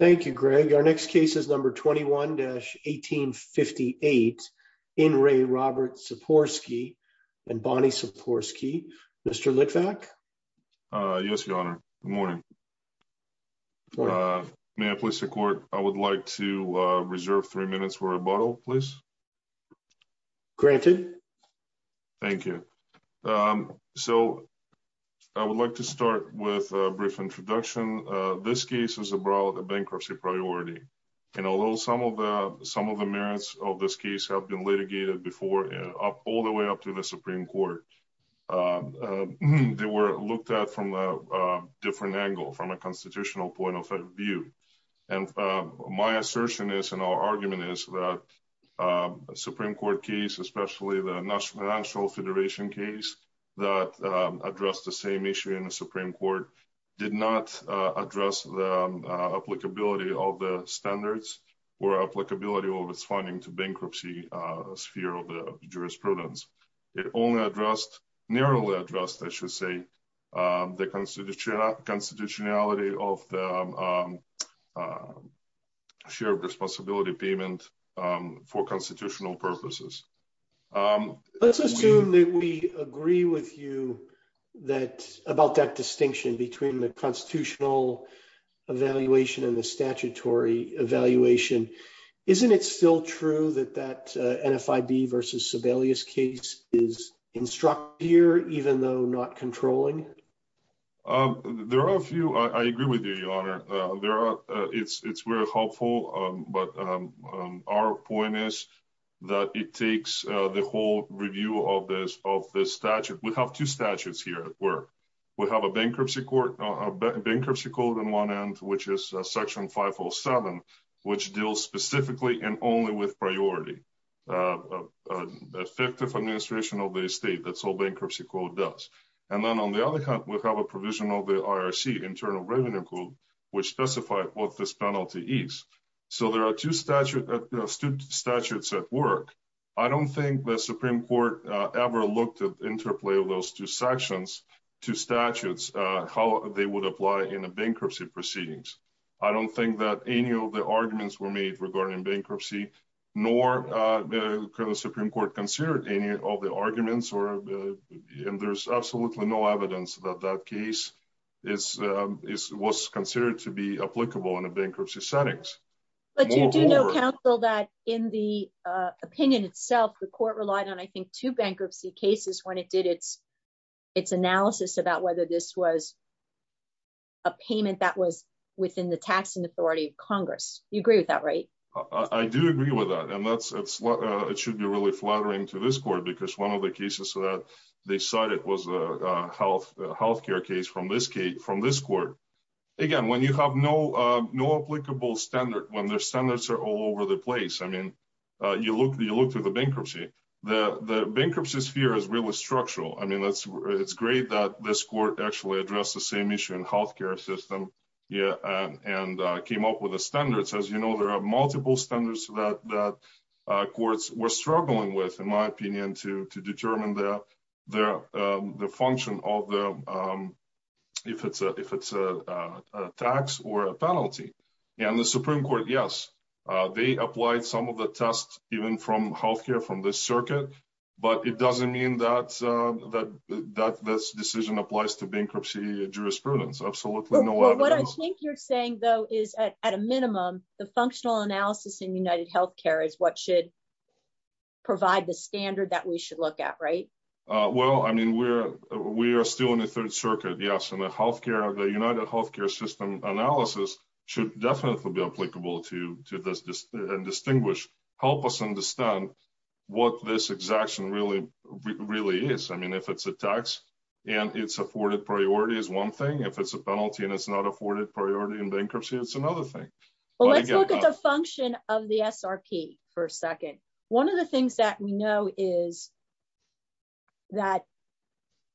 Thank you, Greg. Our next case is number 21-1858, In Re Robert Szczyporski and Bonnie Szczyporski. Mr. Litvak? Yes, Your Honor. Good morning. May I please report, I would like to reserve three minutes for a rebuttal, please? Granted. Thank you. So, I would like to start with a brief introduction. This case is about a bankruptcy priority. And although some of the merits of this case have been litigated before, all the way up to the Supreme Court, they were looked at from a different angle, from a constitutional point of view. And my assertion is, and our argument is, that a Supreme Court case, especially the National Federation case, that addressed the same issue in the Supreme Court, did not address the applicability of the standards or applicability of its funding to bankruptcy sphere of the jurisprudence. It only addressed, narrowly addressed, I should say, the constitutionality of the share of responsibility payment for constitutional purposes. Let's assume that we agree with you about that distinction between the constitutional evaluation and the statutory evaluation. Isn't it still true that that NFIB versus Sebelius case is instructive, even though not controlling? There are a few. I agree with you, Your Honor. It's very helpful. But our point is that it takes the whole review of this statute. We have two statutes here at work. We have a bankruptcy court, a bankruptcy code on one end, which is Section 507, which deals specifically and only with priority. Effective administration of the estate, that's all bankruptcy court does. And then on the other hand, we have a provision of the IRC, Internal Revenue Code, which specifies what this penalty is. So there are two statutes at work. I don't think the Supreme Court ever looked at interplay of those two sections, two statutes, how they would apply in a bankruptcy proceedings. I don't think that any of the arguments were made regarding bankruptcy, nor could the Supreme Court consider any of the arguments. And there's absolutely no evidence that that case was considered to be applicable in a bankruptcy settings. But you do know, Counsel, that in the opinion itself, the court relied on, I think, two bankruptcy cases when it did its analysis about whether this was a payment that was within the tax and authority of Congress. You agree with that, right? I do agree with that. And that's what it should be really flattering to this court, because one of the cases that they cited was a health care case from this court. Again, when you have no applicable standard, when their standards are all over the place, I mean, you look through the bankruptcy, the bankruptcy sphere is really structural. I mean, it's great that this court actually addressed the same issue in health care system and came up with the standards. As you know, there are multiple standards that courts were struggling with, in my opinion, to determine the function of if it's a tax or a penalty. And the Supreme Court, yes, they applied some of the tests, even from health care from this circuit. But it doesn't mean that this decision applies to bankruptcy jurisprudence. Absolutely no evidence. What I think you're saying, though, is at a minimum, the functional analysis in UnitedHealthcare is what should provide the standard that we should look at, right? Well, I mean, we are still in the Third Circuit, yes, and the UnitedHealthcare system analysis should definitely be applicable to this and distinguish, help us understand what this exaction really is. I mean, if it's a tax and it's afforded priority is one thing, if it's a penalty and it's not afforded priority in bankruptcy, it's another thing. Well, let's look at the function of the SRP for a second. One of the things that we know is that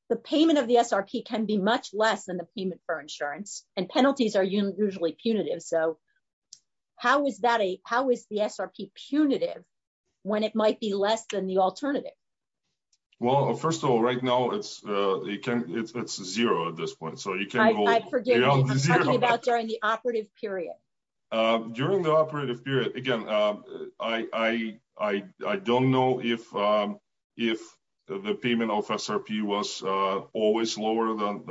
the payment of the SRP can be much less than the payment for insurance, and penalties are usually punitive. So how is that a, how is the SRP punitive when it might be less than the alternative? Well, first of all, right now it's zero at this point, so you can't go beyond zero. I'm talking about during the operative period. During the operative period, again, I don't know if the payment of SRP was always lower than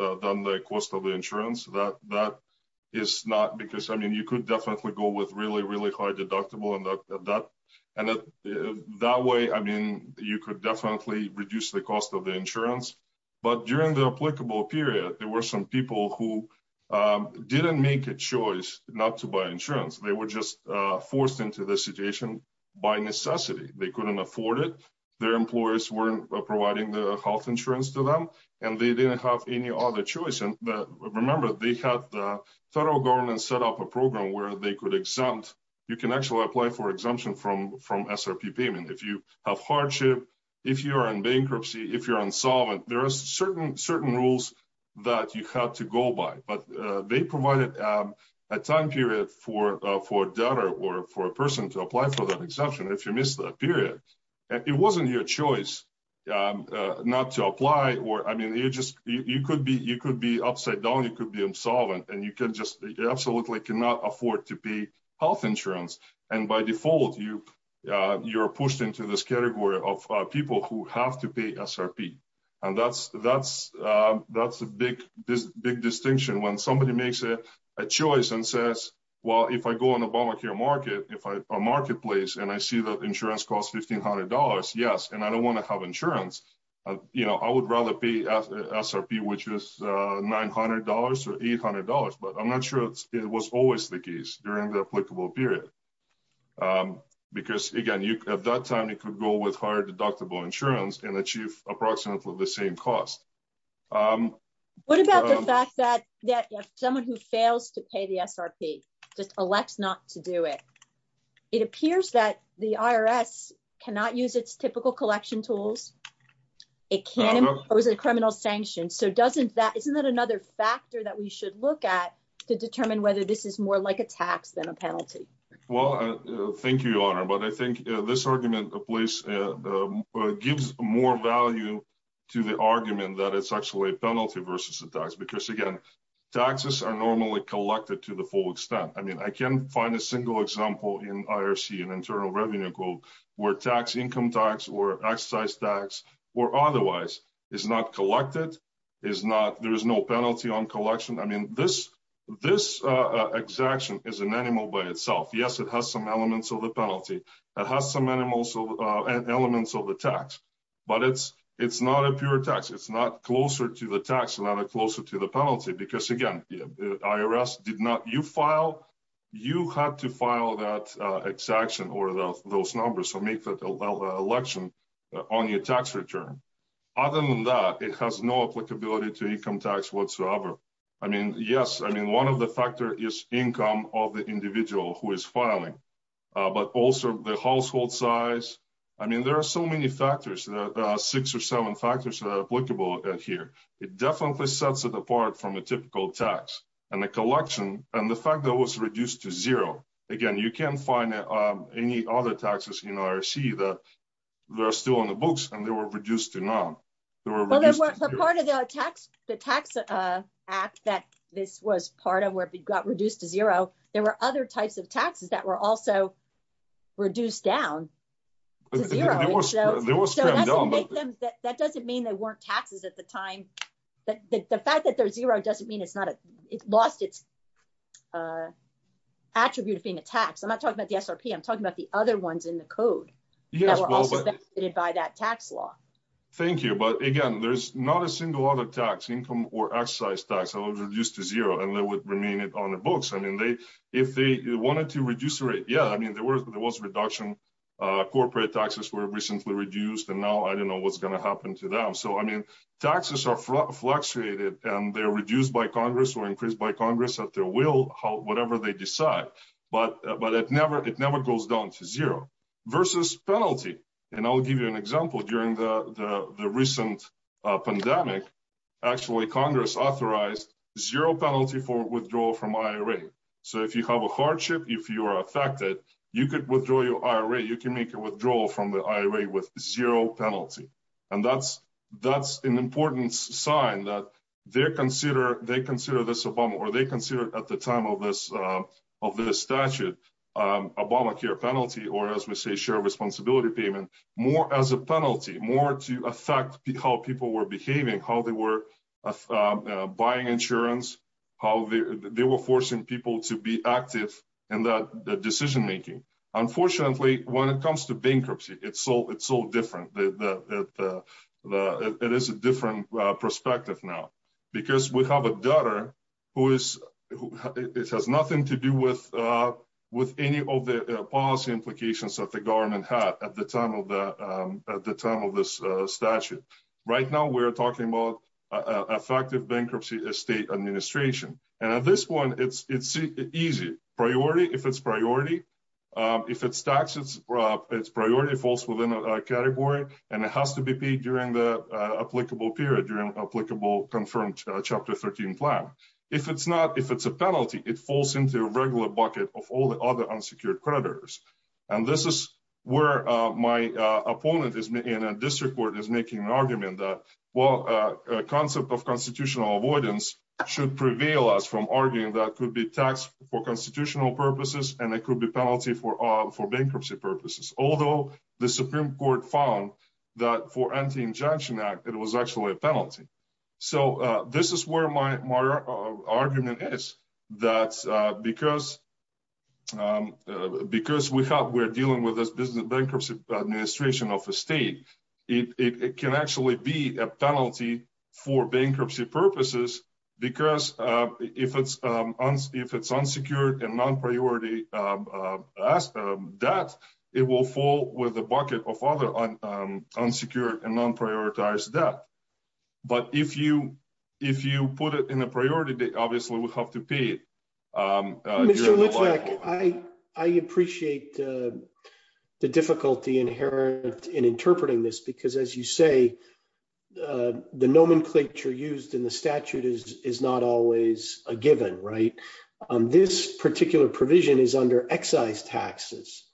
the cost of the insurance. That is not because, I mean, you could definitely go with really, really high deductible and that way, I mean, you could definitely reduce the cost of the insurance. But during the applicable period, there were some people who didn't make a choice not to buy insurance. They were just forced into the situation by necessity. They couldn't afford it. Their employers weren't providing the health insurance to them, and they didn't have any other choice. Remember, they had the federal government set up a program where they could exempt, you can actually apply for exemption from SRP payment. If you have hardship, if you're in bankruptcy, if you're insolvent, there are certain rules that you have to go by, but they provided a time period for a debtor or for a person to apply for that exemption if you missed that period. It wasn't your choice not to apply. I mean, you could be upside down, you could be insolvent, and you absolutely cannot afford to pay health insurance. And by default, you're pushed into this category of people who have to pay SRP. And that's a big distinction. When somebody makes a choice and says, well, if I go on a marketplace and I see that insurance costs $1,500, yes, and I don't want to have insurance, I would rather pay SRP, which is $900 or $800. But I'm not sure it was always the case during the applicable period. Because, again, at that time you could go with higher deductible insurance and achieve approximately the same cost. What about the fact that someone who fails to pay the SRP just elects not to do it? It appears that the IRS cannot use its typical collection tools. It can impose a criminal sanction. So isn't that another factor that we should look at to determine whether this is more like a tax than a penalty? Well, thank you, Your Honor. But I think this argument gives more value to the argument that it's actually a penalty versus a tax. Because, again, taxes are normally collected to the full extent. I mean, I can't find a single example in IRC, in Internal Revenue Code, where income tax or excise tax or otherwise is not collected, there is no penalty on collection. I mean, this exaction is an animal by itself. Yes, it has some elements of the penalty. It has some elements of the tax. But it's not a pure tax. It's not closer to the tax, not closer to the penalty. Because, again, the IRS did not, you file, you have to file that exaction or those numbers or make that election on your tax return. Other than that, it has no applicability to income tax whatsoever. I mean, yes, I mean, one of the factors is income of the individual who is filing. But also the household size. I mean, there are so many factors, six or seven factors that are applicable here. It definitely sets it apart from a typical tax. And the collection, and the fact that it was reduced to zero. Again, you can't find any other taxes in IRC that are still in the books and they were reduced to none. Well, part of the tax act that this was part of where it got reduced to zero, there were other types of taxes that were also reduced down to zero. That doesn't mean they weren't taxes at the time. The fact that they're zero doesn't mean it's lost its attribute of being a tax. I'm not talking about the SRP. I'm talking about the other ones in the code that were also affected by that tax law. Thank you. But, again, there's not a single other tax, income or excise tax, that was reduced to zero and that would remain on the books. If they wanted to reduce the rate, yeah, there was a reduction. Corporate taxes were recently reduced and now I don't know what's going to happen to them. So, I mean, taxes are fluctuated and they're reduced by Congress or increased by Congress at their will, whatever they decide. But it never goes down to zero. Versus penalty. And I'll give you an example. During the recent pandemic, actually, Congress authorized zero penalty for withdrawal from IRA. So, if you have a hardship, if you are affected, you could withdraw your IRA. You can make a withdrawal from the IRA with zero penalty. And that's an important sign that they consider this Obama or they consider at the time of this statute, Obamacare penalty or, as we say, shared responsibility payment, more as a penalty. More to affect how people were behaving, how they were buying insurance, how they were forcing people to be active in that decision making. Unfortunately, when it comes to bankruptcy, it's so different. It is a different perspective now. Because we have a daughter who has nothing to do with any of the policy implications that the government had at the time of this statute. Right now, we're talking about effective bankruptcy state administration. And at this point, it's easy. Priority, if it's priority. If it's taxes, it's priority falls within a category. And it has to be paid during the applicable period, during applicable confirmed Chapter 13 plan. If it's not, if it's a penalty, it falls into a regular bucket of all the other unsecured creditors. And this is where my opponent is in a district court is making an argument that, well, a concept of constitutional avoidance should prevail as from arguing that could be taxed for constitutional purposes. And it could be penalty for for bankruptcy purposes, although the Supreme Court found that for anti injunction act, it was actually a penalty. So, this is where my argument is that because we're dealing with this business bankruptcy administration of a state, it can actually be a penalty for bankruptcy purposes. Because if it's unsecured and non-priority debt, it will fall with a bucket of other unsecured and non-prioritized debt. But if you, if you put it in a priority, obviously we'll have to pay it. I appreciate the difficulty inherent in interpreting this because as you say, the nomenclature used in the statute is is not always a given right on this particular provision is under excise taxes.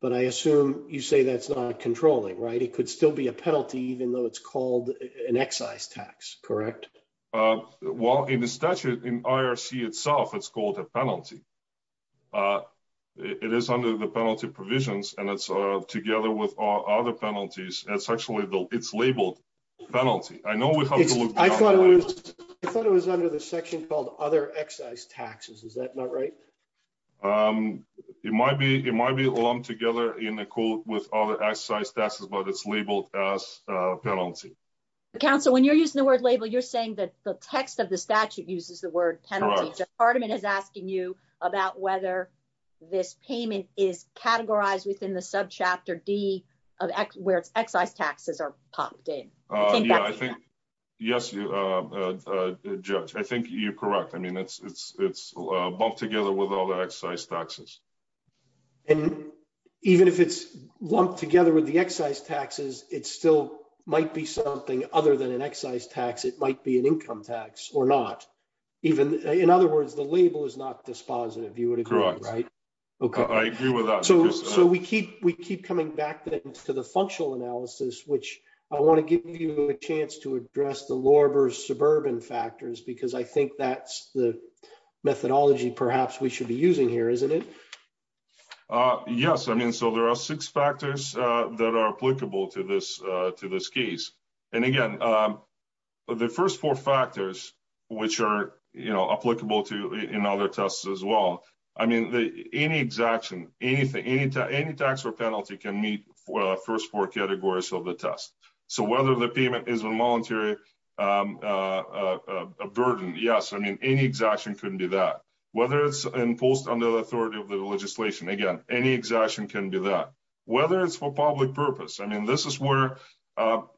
But I assume you say that's not controlling, right? It could still be a penalty, even though it's called an excise tax, correct? Well, in the statute in IRC itself, it's called a penalty. It is under the penalty provisions, and it's together with other penalties. It's actually, it's labeled penalty. I know we have to look. I thought it was under the section called other excise taxes. Is that not right? It might be, it might be lumped together in the court with other excise taxes, but it's labeled as penalty. Counsel, when you're using the word label, you're saying that the text of the statute uses the word penalty. Judge Hardiman is asking you about whether this payment is categorized within the subchapter D of where it's excise taxes are popped in. Yes, Judge, I think you're correct. I mean, it's, it's, it's lumped together with all the excise taxes. And even if it's lumped together with the excise taxes, it still might be something other than an excise tax. It might be an income tax or not. Even in other words, the label is not dispositive. You would agree, right? Okay, I agree with that. So, so we keep, we keep coming back to the functional analysis, which I want to give you a chance to address the lower suburban factors, because I think that's the methodology. Perhaps we should be using here, isn't it? Yes, I mean, so there are six factors that are applicable to this, to this case. And again, the first four factors, which are applicable to in other tests as well. I mean, any exaction, anything, any tax or penalty can meet first four categories of the test. So whether the payment is a voluntary burden. Yes, I mean, any exaction couldn't be that. Whether it's imposed under the authority of the legislation. Again, any exaction can be that. Whether it's for public purpose. I mean, this is where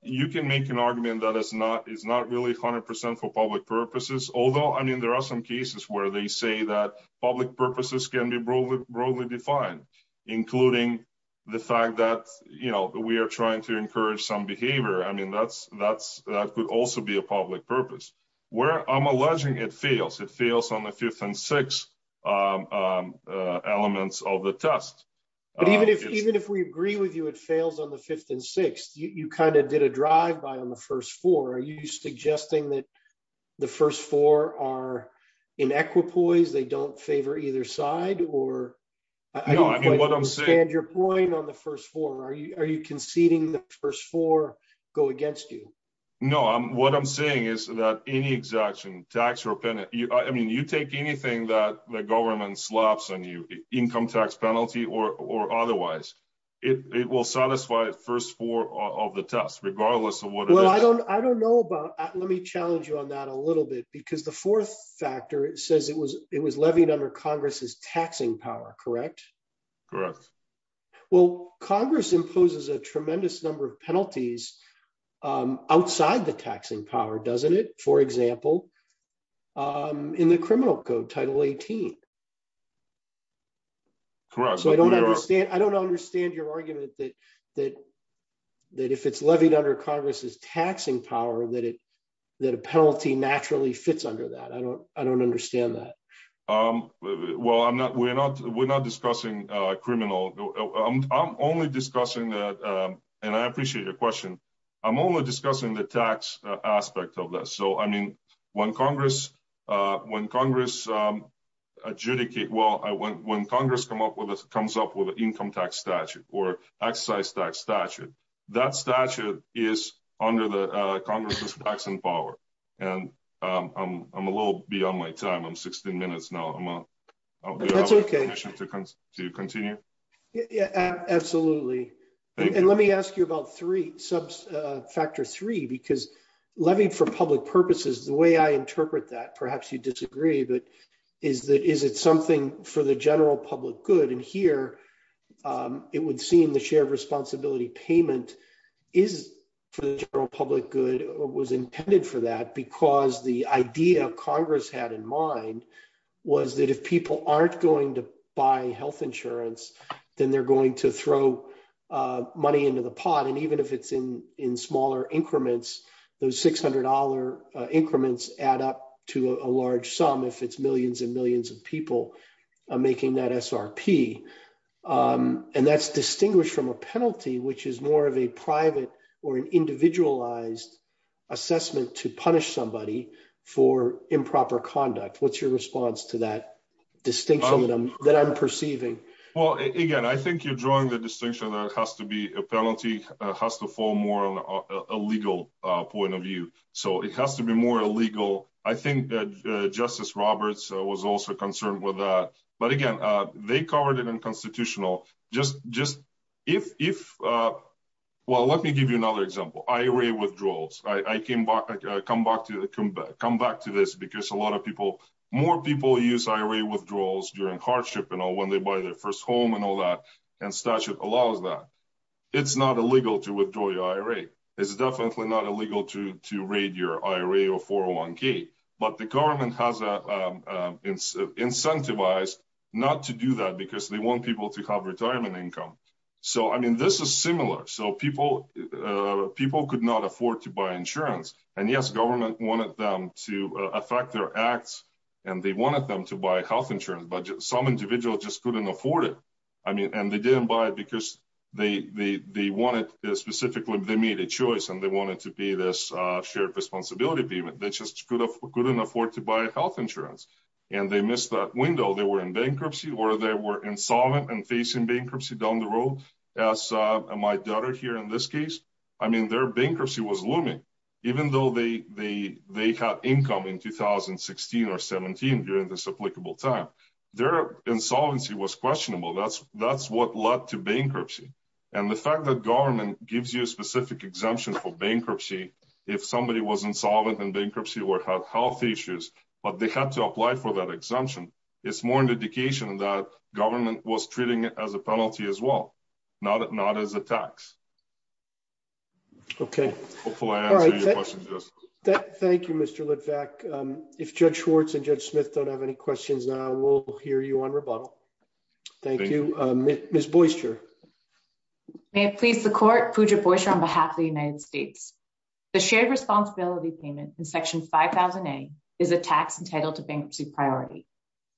you can make an argument that it's not, it's not really 100% for public purposes. Although, I mean, there are some cases where they say that public purposes can be broadly defined, including the fact that, you know, we are trying to encourage some behavior. I mean, that's, that's, that could also be a public purpose. Where I'm alleging it fails, it fails on the fifth and sixth elements of the test. But even if, even if we agree with you, it fails on the fifth and sixth, you kind of did a drive by on the first four. Are you suggesting that the first four are in equipoise, they don't favor either side? I don't quite understand your point on the first four. Are you conceding the first four go against you? No, what I'm saying is that any exaction, tax or penalty, I mean, you take anything that the government slaps on you, income tax penalty or otherwise, it will satisfy first four of the test, regardless of what it is. I don't, I don't know about, let me challenge you on that a little bit because the fourth factor, it says it was, it was levied under Congress's taxing power, correct? Correct. Well, Congress imposes a tremendous number of penalties outside the taxing power, doesn't it? For example, in the criminal code, Title 18. Correct. So I don't understand, I don't understand your argument that, that, that if it's levied under Congress's taxing power, that it, that a penalty naturally fits under that. I don't, I don't understand that. Well, I'm not, we're not, we're not discussing criminal, I'm only discussing that. And I appreciate your question. I'm only discussing the tax aspect of that. So, I mean, when Congress, when Congress adjudicate, well, I went, when Congress come up with, comes up with an income tax statute or exercise tax statute, that statute is under the Congress's taxing power. And I'm a little beyond my time, I'm 16 minutes now. That's okay. Do you continue? Yeah, absolutely. And let me ask you about three, sub-factor three, because levied for public purposes, the way I interpret that, perhaps you disagree, but is that, is it something for the general public good? And here, it would seem the shared responsibility payment is for the general public good or was intended for that because the idea of Congress had in mind was that if people aren't going to buy health insurance, then they're going to throw money into the pot. And even if it's in, in smaller increments, those $600 increments add up to a large sum if it's millions and millions of people making that SRP. And that's distinguished from a penalty, which is more of a private or an individualized assessment to punish somebody for improper conduct. What's your response to that distinction that I'm perceiving? Well, again, I think you're drawing the distinction that it has to be a penalty, has to fall more on a legal point of view. So it has to be more illegal. I think that Justice Roberts was also concerned with that. But again, they covered it in constitutional. Well, let me give you another example. IRA withdrawals. I come back to this because a lot of people, more people use IRA withdrawals during hardship, when they buy their first home and all that, and statute allows that. It's not illegal to withdraw your IRA. It's definitely not illegal to raid your IRA or 401k. But the government has incentivized not to do that because they want people to have retirement income. So I mean, this is similar. So people could not afford to buy insurance. And yes, government wanted them to affect their acts, and they wanted them to buy health insurance, but some individuals just couldn't afford it. I mean, and they didn't buy it because they wanted specifically, they made a choice and they wanted to be this shared responsibility payment. They just couldn't afford to buy health insurance. And they missed that window. They were in bankruptcy or they were insolvent and facing bankruptcy down the road, as my daughter here in this case. I mean, their bankruptcy was looming, even though they had income in 2016 or 17 during this applicable time. Their insolvency was questionable. That's what led to bankruptcy. And the fact that government gives you a specific exemption for bankruptcy, if somebody was insolvent in bankruptcy or had health issues, but they had to apply for that exemption, it's more indication that government was treating it as a penalty as well, not as a tax. Okay. Thank you, Mr. Litvak. If Judge Schwartz and Judge Smith don't have any questions now, we'll hear you on rebuttal. Thank you. Ms. Boyster. May it please the court, Pooja Boyster on behalf of the United States. The shared responsibility payment in Section 5000A is a tax entitled to bankruptcy priority.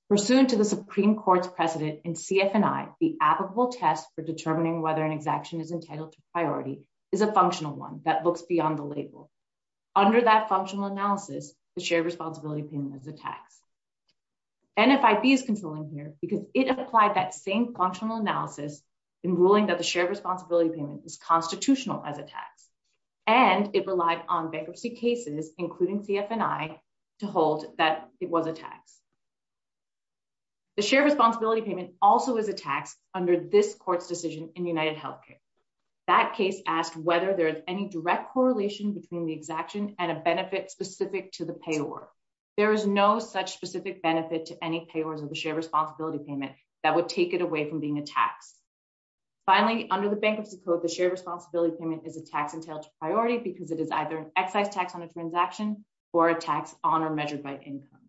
Pursuant to the Supreme Court's precedent in CF&I, the applicable test for determining whether an exemption is entitled to priority is a functional one that looks beyond the label. Under that functional analysis, the shared responsibility payment is a tax. NFIB is controlling here because it applied that same functional analysis in ruling that the shared responsibility payment is constitutional as a tax, and it relied on bankruptcy cases, including CF&I, to hold that it was a tax. The shared responsibility payment also is a tax under this court's decision in UnitedHealthcare. That case asked whether there is any direct correlation between the exaction and a benefit specific to the payor. There is no such specific benefit to any payors of the shared responsibility payment that would take it away from being a tax. Finally, under the Bankruptcy Code, the shared responsibility payment is a tax entitled to priority because it is either an excise tax on a transaction or a tax on or measured by income.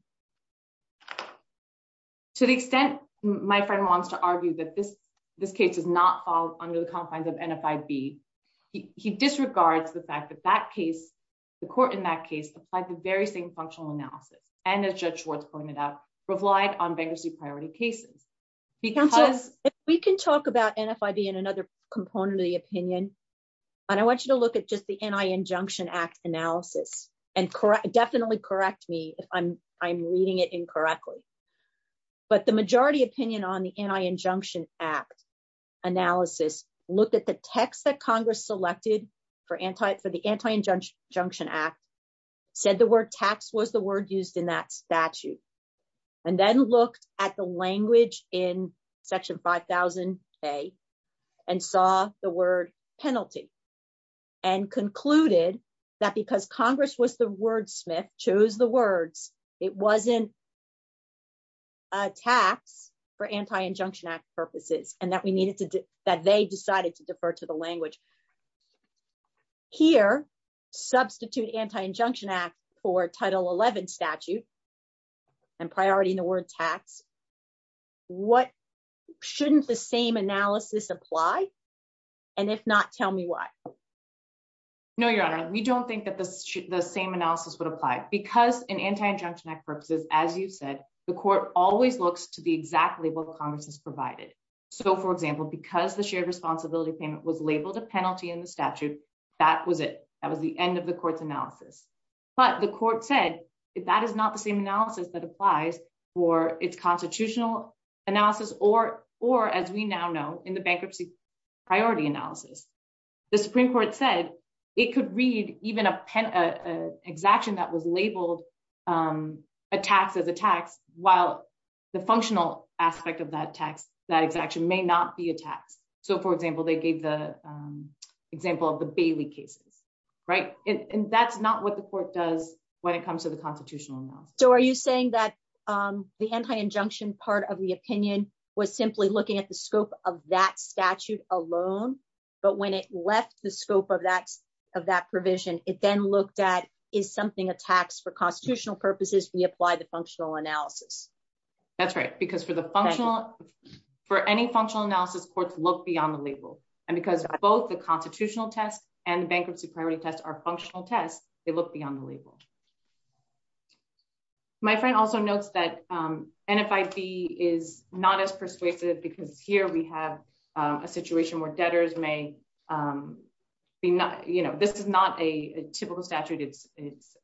To the extent my friend wants to argue that this case does not fall under the confines of NFIB, he disregards the fact that the court in that case applied the very same functional analysis and, as Judge Schwartz pointed out, relied on bankruptcy priority cases. If we can talk about NFIB in another component of the opinion, and I want you to look at just the Anti-Injunction Act analysis, and definitely correct me if I'm reading it incorrectly, but the majority opinion on the Anti-Injunction Act analysis looked at the text that Congress selected for the Anti-Injunction Act, said the word tax was the word used in that statute, and then looked at the language in Section 5000A and saw the word penalty and concluded that because Congress was the wordsmith, chose the words, it wasn't a tax for Anti-Injunction Act purposes and that they decided to defer to the language. Here, substitute Anti-Injunction Act for Title 11 statute and priority in the word tax, shouldn't the same analysis apply? And if not, tell me why. No, Your Honor, we don't think that the same analysis would apply. Because in Anti-Injunction Act purposes, as you said, the court always looks to the exact label Congress has provided. So, for example, because the shared responsibility payment was labeled a penalty in the statute, that was it. That was the end of the court's analysis. But the court said, if that is not the same analysis that applies for its constitutional analysis, or as we now know, in the bankruptcy priority analysis, the Supreme Court said it could read even an exaction that was labeled a tax as a tax, while the functional aspect of that tax, that exaction, may not be a tax. So, for example, they gave the example of the Bailey cases, right? And that's not what the court does when it comes to the constitutional analysis. So, are you saying that the Anti-Injunction part of the opinion was simply looking at the scope of that statute alone, but when it left the scope of that provision, it then looked at, is something a tax for constitutional purposes, we apply the functional analysis? That's right, because for any functional analysis, courts look beyond the label. And because both the constitutional test and the bankruptcy priority test are functional tests, they look beyond the label. My friend also notes that NFIB is not as persuasive, because here we have a situation where debtors may be not, you know, this is not a typical statute, it's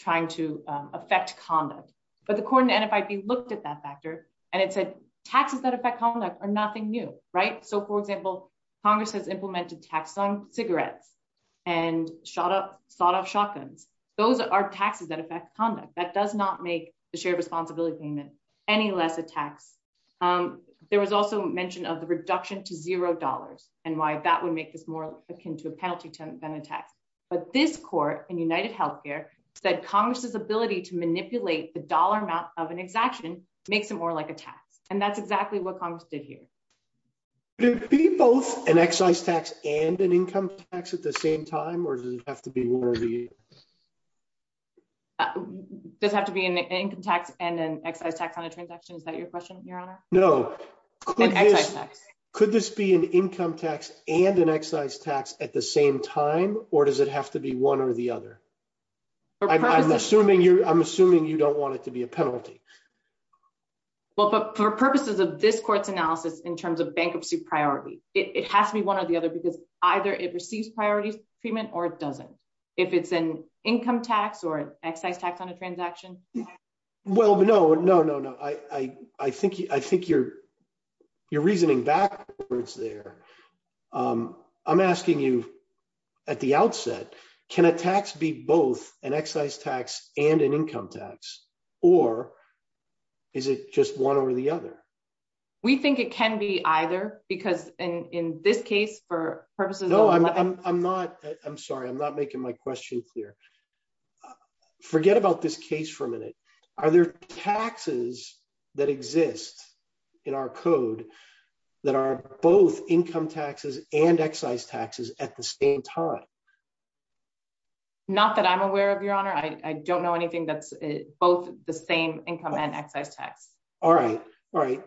trying to affect conduct. But the court in NFIB looked at that factor, and it said, taxes that affect conduct are nothing new, right? So, for example, Congress has implemented tax on cigarettes, and shot off shotguns. Those are taxes that affect conduct, that does not make the shared responsibility payment any less a tax. There was also mention of the reduction to zero dollars, and why that would make this more akin to a penalty than a tax. But this court in UnitedHealthcare said Congress's ability to manipulate the dollar amount of an exaction makes it more like a tax. And that's exactly what Congress did here. Would it be both an excise tax and an income tax at the same time, or does it have to be one of the? Does it have to be an income tax and an excise tax on a transaction? Is that your question, Your Honor? No. Could this be an income tax and an excise tax at the same time, or does it have to be one or the other? I'm assuming you don't want it to be a penalty. Well, but for purposes of this court's analysis in terms of bankruptcy priority, it has to be one or the other, because either it receives priority treatment or it doesn't. If it's an income tax or excise tax on a transaction? Well, no, no, no, no. I think you're reasoning backwards there. I'm asking you at the outset, can a tax be both an excise tax and an income tax, or is it just one or the other? We think it can be either, because in this case, for purposes of... I'm sorry, I'm not making my question clear. Forget about this case for a minute. Are there taxes that exist in our code that are both income taxes and excise taxes at the same time? Not that I'm aware of, Your Honor. I don't know anything that's both the same income and excise tax. All right, all right.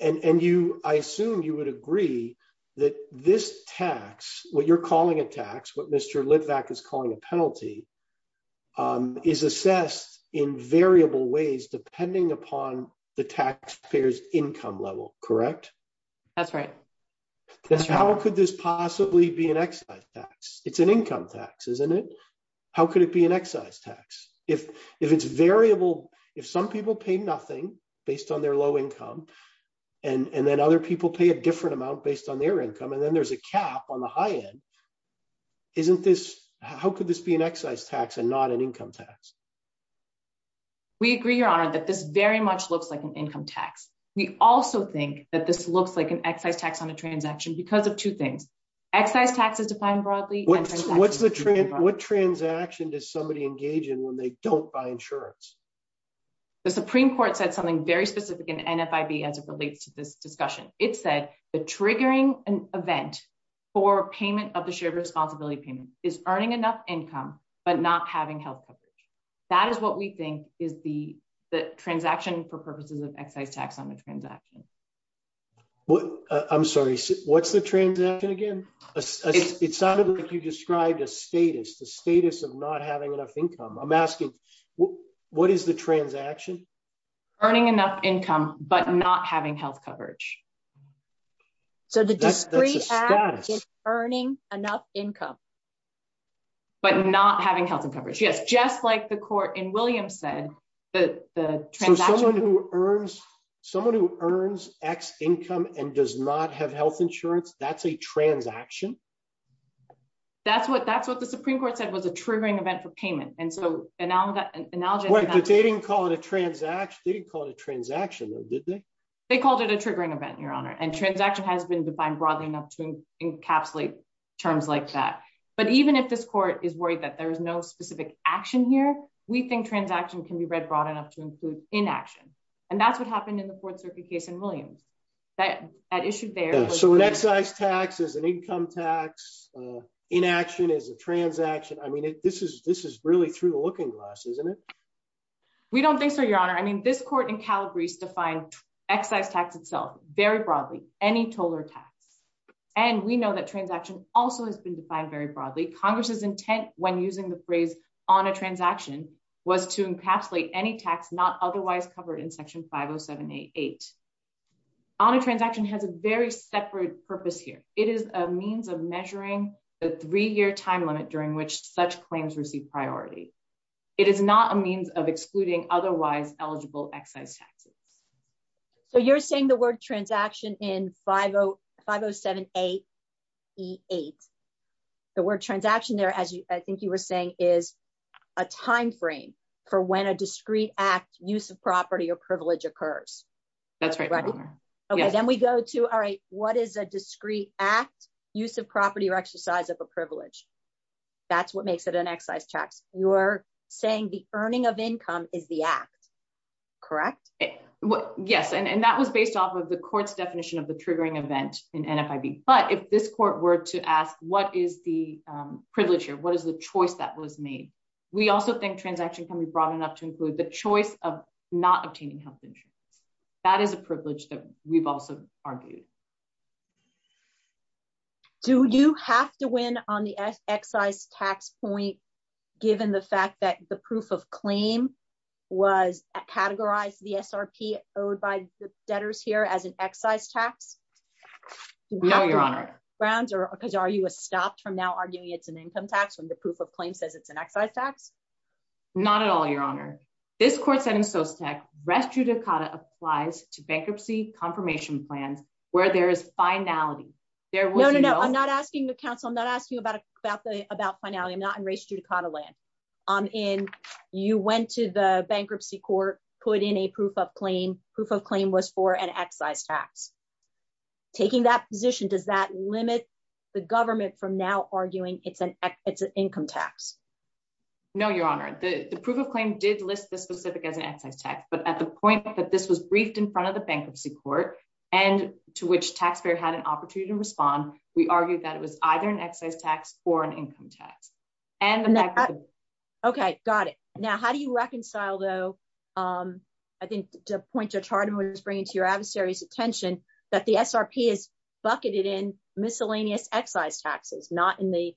And I assume you would agree that this tax, what you're calling a tax, what Mr. Litvack is calling a penalty, is assessed in variable ways depending upon the taxpayer's income level, correct? That's right. How could this possibly be an excise tax? It's an income tax, isn't it? How could it be an excise tax? If it's variable, if some people pay nothing based on their low income, and then other people pay a different amount based on their income, and then there's a cap on the high end, isn't this... how could this be an excise tax and not an income tax? We agree, Your Honor, that this very much looks like an income tax. We also think that this looks like an excise tax on a transaction because of two things. Excise tax is defined broadly... What transaction does somebody engage in when they don't buy insurance? The Supreme Court said something very specific in NFIB as it relates to this discussion. It said the triggering event for payment of the shared responsibility payment is earning enough income but not having health coverage. That is what we think is the transaction for purposes of excise tax on a transaction. I'm sorry, what's the transaction again? It sounded like you described a status, the status of not having enough income. I'm asking, what is the transaction? Earning enough income but not having health coverage. So the discrete act is earning enough income. But not having health coverage. Yes, just like the court in Williams said, the transaction... Someone who earns X income and does not have health insurance, that's a transaction? That's what the Supreme Court said was a triggering event for payment. They didn't call it a transaction though, did they? They called it a triggering event, Your Honor, and transaction has been defined broadly enough to encapsulate terms like that. But even if this court is worried that there is no specific action here, we think transaction can be read broad enough to include inaction. And that's what happened in the Fourth Circuit case in Williams. So an excise tax is an income tax, inaction is a transaction. I mean, this is really through the looking glass, isn't it? We don't think so, Your Honor. I mean, this court in Calabrese defined excise tax itself very broadly, any total tax. And we know that transaction also has been defined very broadly. Congress's intent when using the phrase on a transaction was to encapsulate any tax not otherwise covered in Section 50788. On a transaction has a very separate purpose here. It is a means of measuring the three-year time limit during which such claims receive priority. It is not a means of excluding otherwise eligible excise taxes. So you're saying the word transaction in 50788, the word transaction there, as I think you were saying, is a timeframe for when a discrete act, use of property or privilege occurs. That's right, Your Honor. Okay, then we go to, all right, what is a discrete act, use of property or exercise of a privilege? That's what makes it an excise tax. You're saying the earning of income is the act, correct? Yes, and that was based off of the court's definition of the triggering event in NFIB. But if this court were to ask, what is the privilege here? What is the choice that was made? We also think transaction can be brought up to include the choice of not obtaining health insurance. That is a privilege that we've also argued. Do you have to win on the excise tax point, given the fact that the proof of claim was categorized, the SRP owed by the debtors here as an excise tax? No, Your Honor. Because are you stopped from now arguing it's an income tax when the proof of claim says it's an excise tax? Not at all, Your Honor. This court said in Sostek, res judicata applies to bankruptcy confirmation plans where there is finality. No, no, no, I'm not asking the counsel, I'm not asking about finality, I'm not in res judicata land. You went to the bankruptcy court, put in a proof of claim, proof of claim was for an excise tax. Taking that position, does that limit the government from now arguing it's an income tax? No, Your Honor. The proof of claim did list this specific as an excise tax, but at the point that this was briefed in front of the bankruptcy court and to which taxpayer had an opportunity to respond, we argued that it was either an excise tax or an income tax. Okay, got it. Now, how do you reconcile, though, I think to point to a chart and what it's bringing to your adversary's attention, that the SRP is bucketed in miscellaneous excise taxes, not in the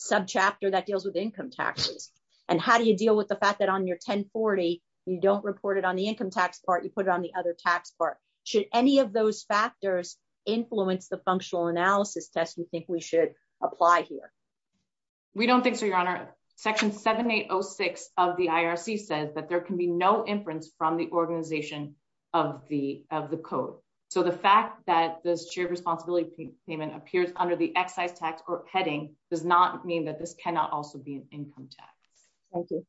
subchapter that deals with income taxes? And how do you deal with the fact that on your 1040, you don't report it on the income tax part, you put it on the other tax part? Should any of those factors influence the functional analysis test you think we should apply here? We don't think so, Your Honor. Section 7806 of the IRC says that there can be no inference from the organization of the code. So the fact that this shared responsibility payment appears under the excise tax heading does not mean that this cannot also be an income tax. Thank you.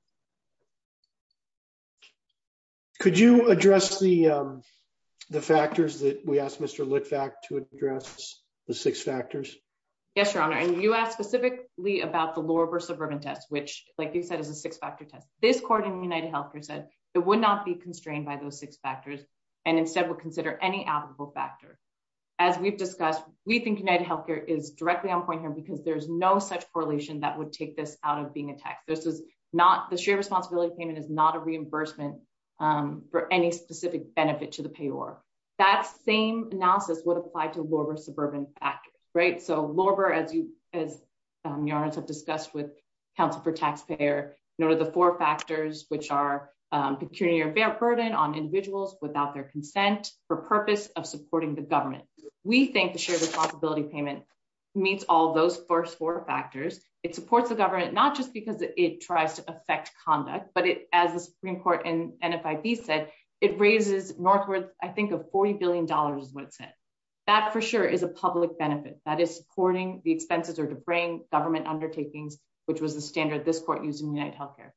Could you address the factors that we asked Mr. Litvak to address, the six factors? Yes, Your Honor. And you asked specifically about the lower suburban test, which, like you said, is a six factor test. This court in UnitedHealthcare said it would not be constrained by those six factors, and instead would consider any applicable factor. As we've discussed, we think UnitedHealthcare is directly on point here because there's no such correlation that would take this out of being a tax. This is not, the shared responsibility payment is not a reimbursement for any specific benefit to the payor. That same analysis would apply to lower suburban factors, right? So lower, as Your Honor has discussed with counsel for taxpayer, the four factors, which are pecuniary or bear burden on individuals without their consent for purpose of supporting the government. We think the shared responsibility payment meets all those first four factors. It supports the government, not just because it tries to affect conduct, but as the Supreme Court in NFIB said, it raises northward, I think of $40 billion is what it said. That for sure is a public benefit that is supporting the expenses or to bring government undertakings, which was the standard this court used in UnitedHealthcare.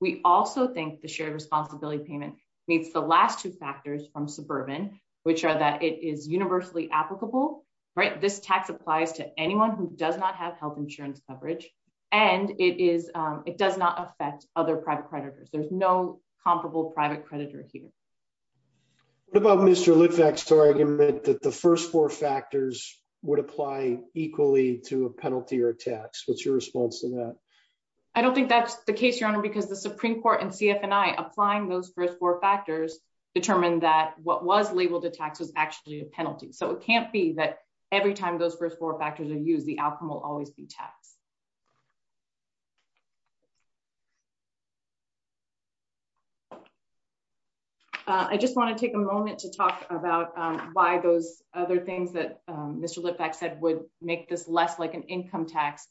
We also think the shared responsibility payment meets the last two factors from suburban, which are that it is universally applicable, right? This tax applies to anyone who does not have health insurance coverage, and it does not affect other private creditors. There's no comparable private creditor here. What about Mr. Litvack's argument that the first four factors would apply equally to a penalty or a tax? What's your response to that? I don't think that's the case, Your Honor, because the Supreme Court and CFNI applying those first four factors determined that what was labeled a tax was actually a penalty. So it can't be that every time those first four factors are used, the outcome will always be taxed. I just want to take a moment to talk about why those other things that Mr. Litvack said would make this less like an income tax,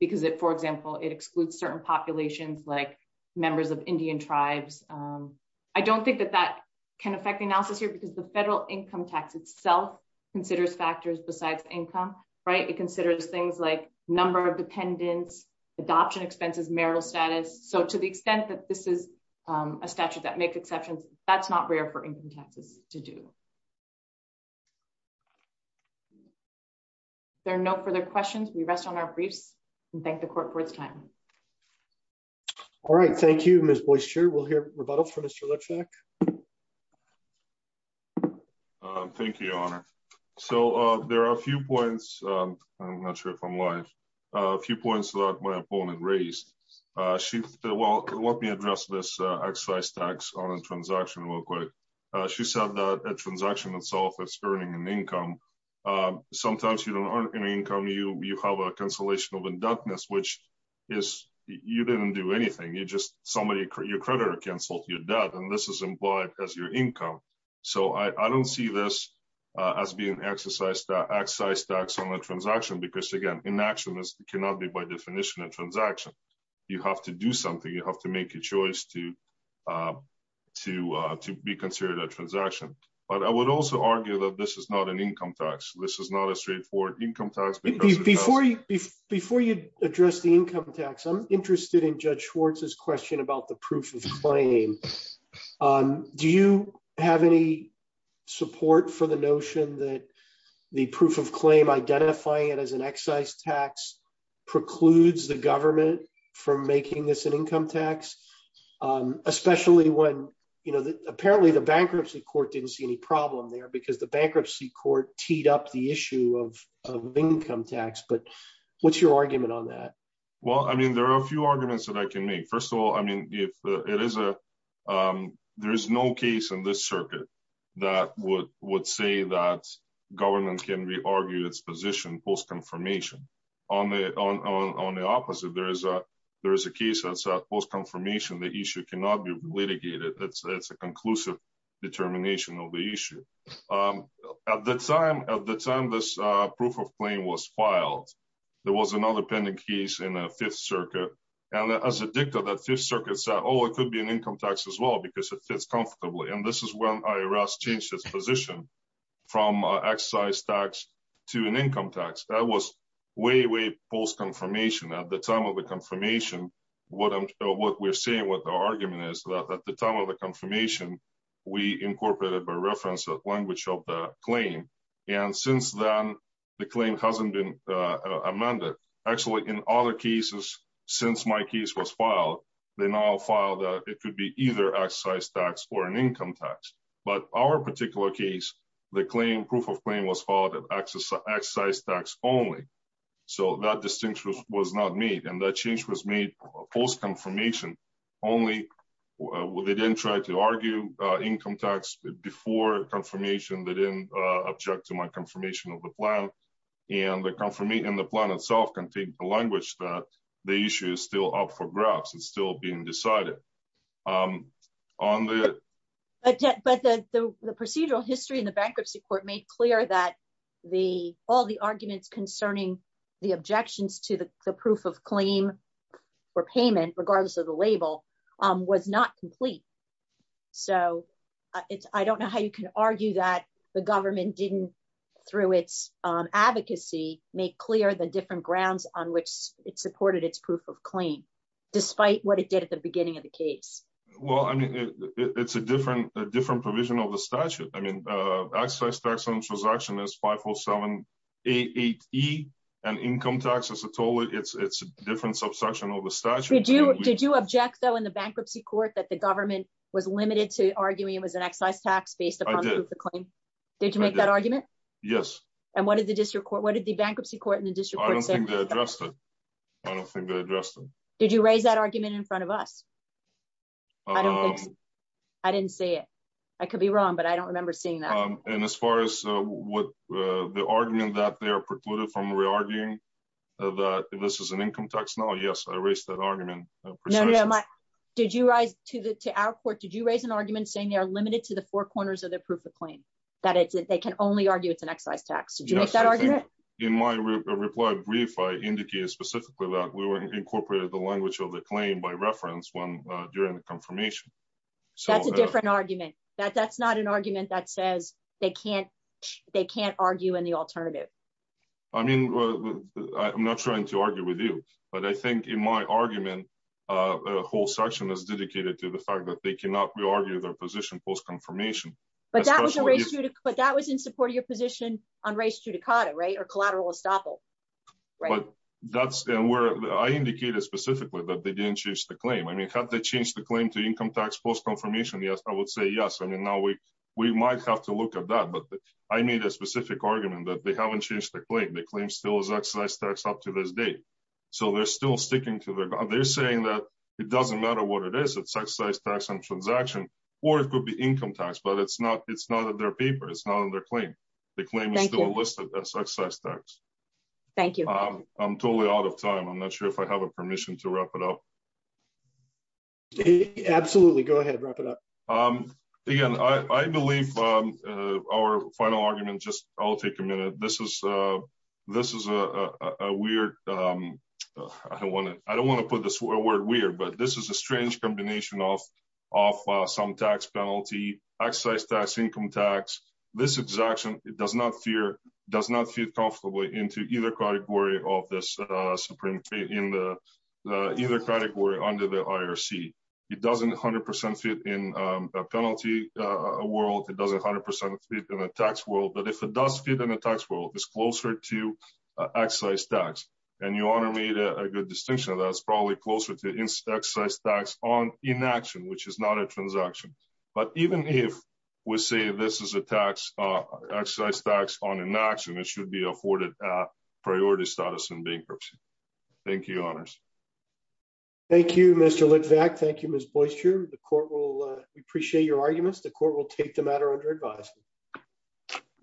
because it, for example, it excludes certain populations like members of Indian tribes. I don't think that that can affect the analysis here because the federal income tax itself considers factors besides income, right? It considers things like number of dependents, adoption expenses, marital status. So to the extent that this is a statute that makes exceptions, that's not rare for income taxes to do. There are no further questions. We rest on our briefs and thank the court for its time. All right. Thank you, Ms. Boister. We'll hear rebuttal from Mr. Litvack. Thank you, Your Honor. So there are a few points. I'm not sure if I'm live. A few points that my opponent raised. Well, let me address this excise tax on a transaction real quick. She said that a transaction itself is earning an income. Sometimes you don't earn an income, you have a cancellation of indebtedness, which is, you didn't do anything. You just, somebody, your creditor canceled your debt and this is implied as your income. So I don't see this as being excise tax on a transaction because, again, inaction cannot be by definition a transaction. You have to do something. You have to make a choice to be considered a transaction. But I would also argue that this is not an income tax. This is not a straightforward income tax. Before you address the income tax, I'm interested in Judge Schwartz's question about the proof of claim. Do you have any support for the notion that the proof of claim, identifying it as an excise tax, precludes the government from making this an income tax? Especially when, you know, apparently the bankruptcy court didn't see any problem there because the bankruptcy court teed up the issue of income tax. But what's your argument on that? Well, I mean, there are a few arguments that I can make. First of all, I mean, if it is a, there is no case in this circuit that would say that government can re-argue its position post-confirmation. On the opposite, there is a case that said post-confirmation, the issue cannot be litigated. That's a conclusive determination of the issue. At the time this proof of claim was filed, there was another pending case in the Fifth Circuit. And as a dicta, the Fifth Circuit said, oh, it could be an income tax as well because it fits comfortably. And this is when IRS changed its position from excise tax to an income tax. That was way, way post-confirmation. At the time of the confirmation, what we're saying with the argument is that at the time of the confirmation, we incorporated by reference the language of the claim. And since then, the claim hasn't been amended. Actually, in other cases, since my case was filed, they now file that it could be either excise tax or an income tax. But our particular case, the proof of claim was filed as excise tax only. So that distinction was not made. And that change was made post-confirmation only. They didn't try to argue income tax before confirmation. They didn't object to my confirmation of the plan. And the plan itself contained the language that the issue is still up for grabs. It's still being decided. But the procedural history in the bankruptcy court made clear that all the arguments concerning the objections to the proof of claim or payment, regardless of the label, was not complete. So I don't know how you can argue that the government didn't, through its advocacy, make clear the different grounds on which it supported its proof of claim, despite what it did at the beginning of the case. Well, I mean, it's a different provision of the statute. I mean, excise tax on transaction is 54788E, and income tax, as I told you, it's a different subsection of the statute. Did you object, though, in the bankruptcy court that the government was limited to arguing it was an excise tax based upon the proof of claim? I did. Did you make that argument? Yes. And what did the bankruptcy court and the district court say? I don't think they addressed it. I don't think they addressed it. Did you raise that argument in front of us? I don't think so. I didn't see it. I could be wrong, but I don't remember seeing that. And as far as the argument that they are precluded from re-arguing that this is an income tax, no, yes, I raised that argument. No, no. To our court, did you raise an argument saying they are limited to the four corners of their proof of claim, that they can only argue it's an excise tax? Did you make that argument? In my reply brief, I indicated specifically that we incorporated the language of the claim by reference during the confirmation. That's a different argument. That's not an argument that says they can't argue in the alternative. I mean, I'm not trying to argue with you, but I think in my argument, a whole section is dedicated to the fact that they cannot re-argue their position post-confirmation. But that was in support of your position on res judicata, right, or collateral estoppel. But that's where I indicated specifically that they didn't change the claim. I mean, have they changed the claim to income tax post-confirmation? Yes, I would say yes. I mean, now we might have to look at that. But I made a specific argument that they haven't changed the claim. The claim still is excise tax up to this date. So they're still sticking to their—they're saying that it doesn't matter what it is. It's excise tax on transaction. Or it could be income tax, but it's not in their paper. It's not on their claim. The claim is still listed as excise tax. Thank you. I'm totally out of time. I'm not sure if I have permission to wrap it up. Absolutely. Go ahead. Wrap it up. Again, I believe our final argument just—I'll take a minute. This is a weird—I don't want to put the word weird, but this is a strange combination of some tax penalty, excise tax, income tax. This exaction does not fit comfortably into either category of this Supreme—either category under the IRC. It doesn't 100% fit in a penalty world. It doesn't 100% fit in a tax world. But if it does fit in a tax world, it's closer to excise tax. And your Honor made a good distinction of that. It's probably closer to excise tax on inaction, which is not a transaction. But even if we say this is a tax—excise tax on inaction, it should be afforded priority status in bankruptcy. Thank you, Your Honors. Thank you, Mr. Litvack. Thank you, Ms. Boister. The Court will—we appreciate your arguments. The Court will take the matter under advisement.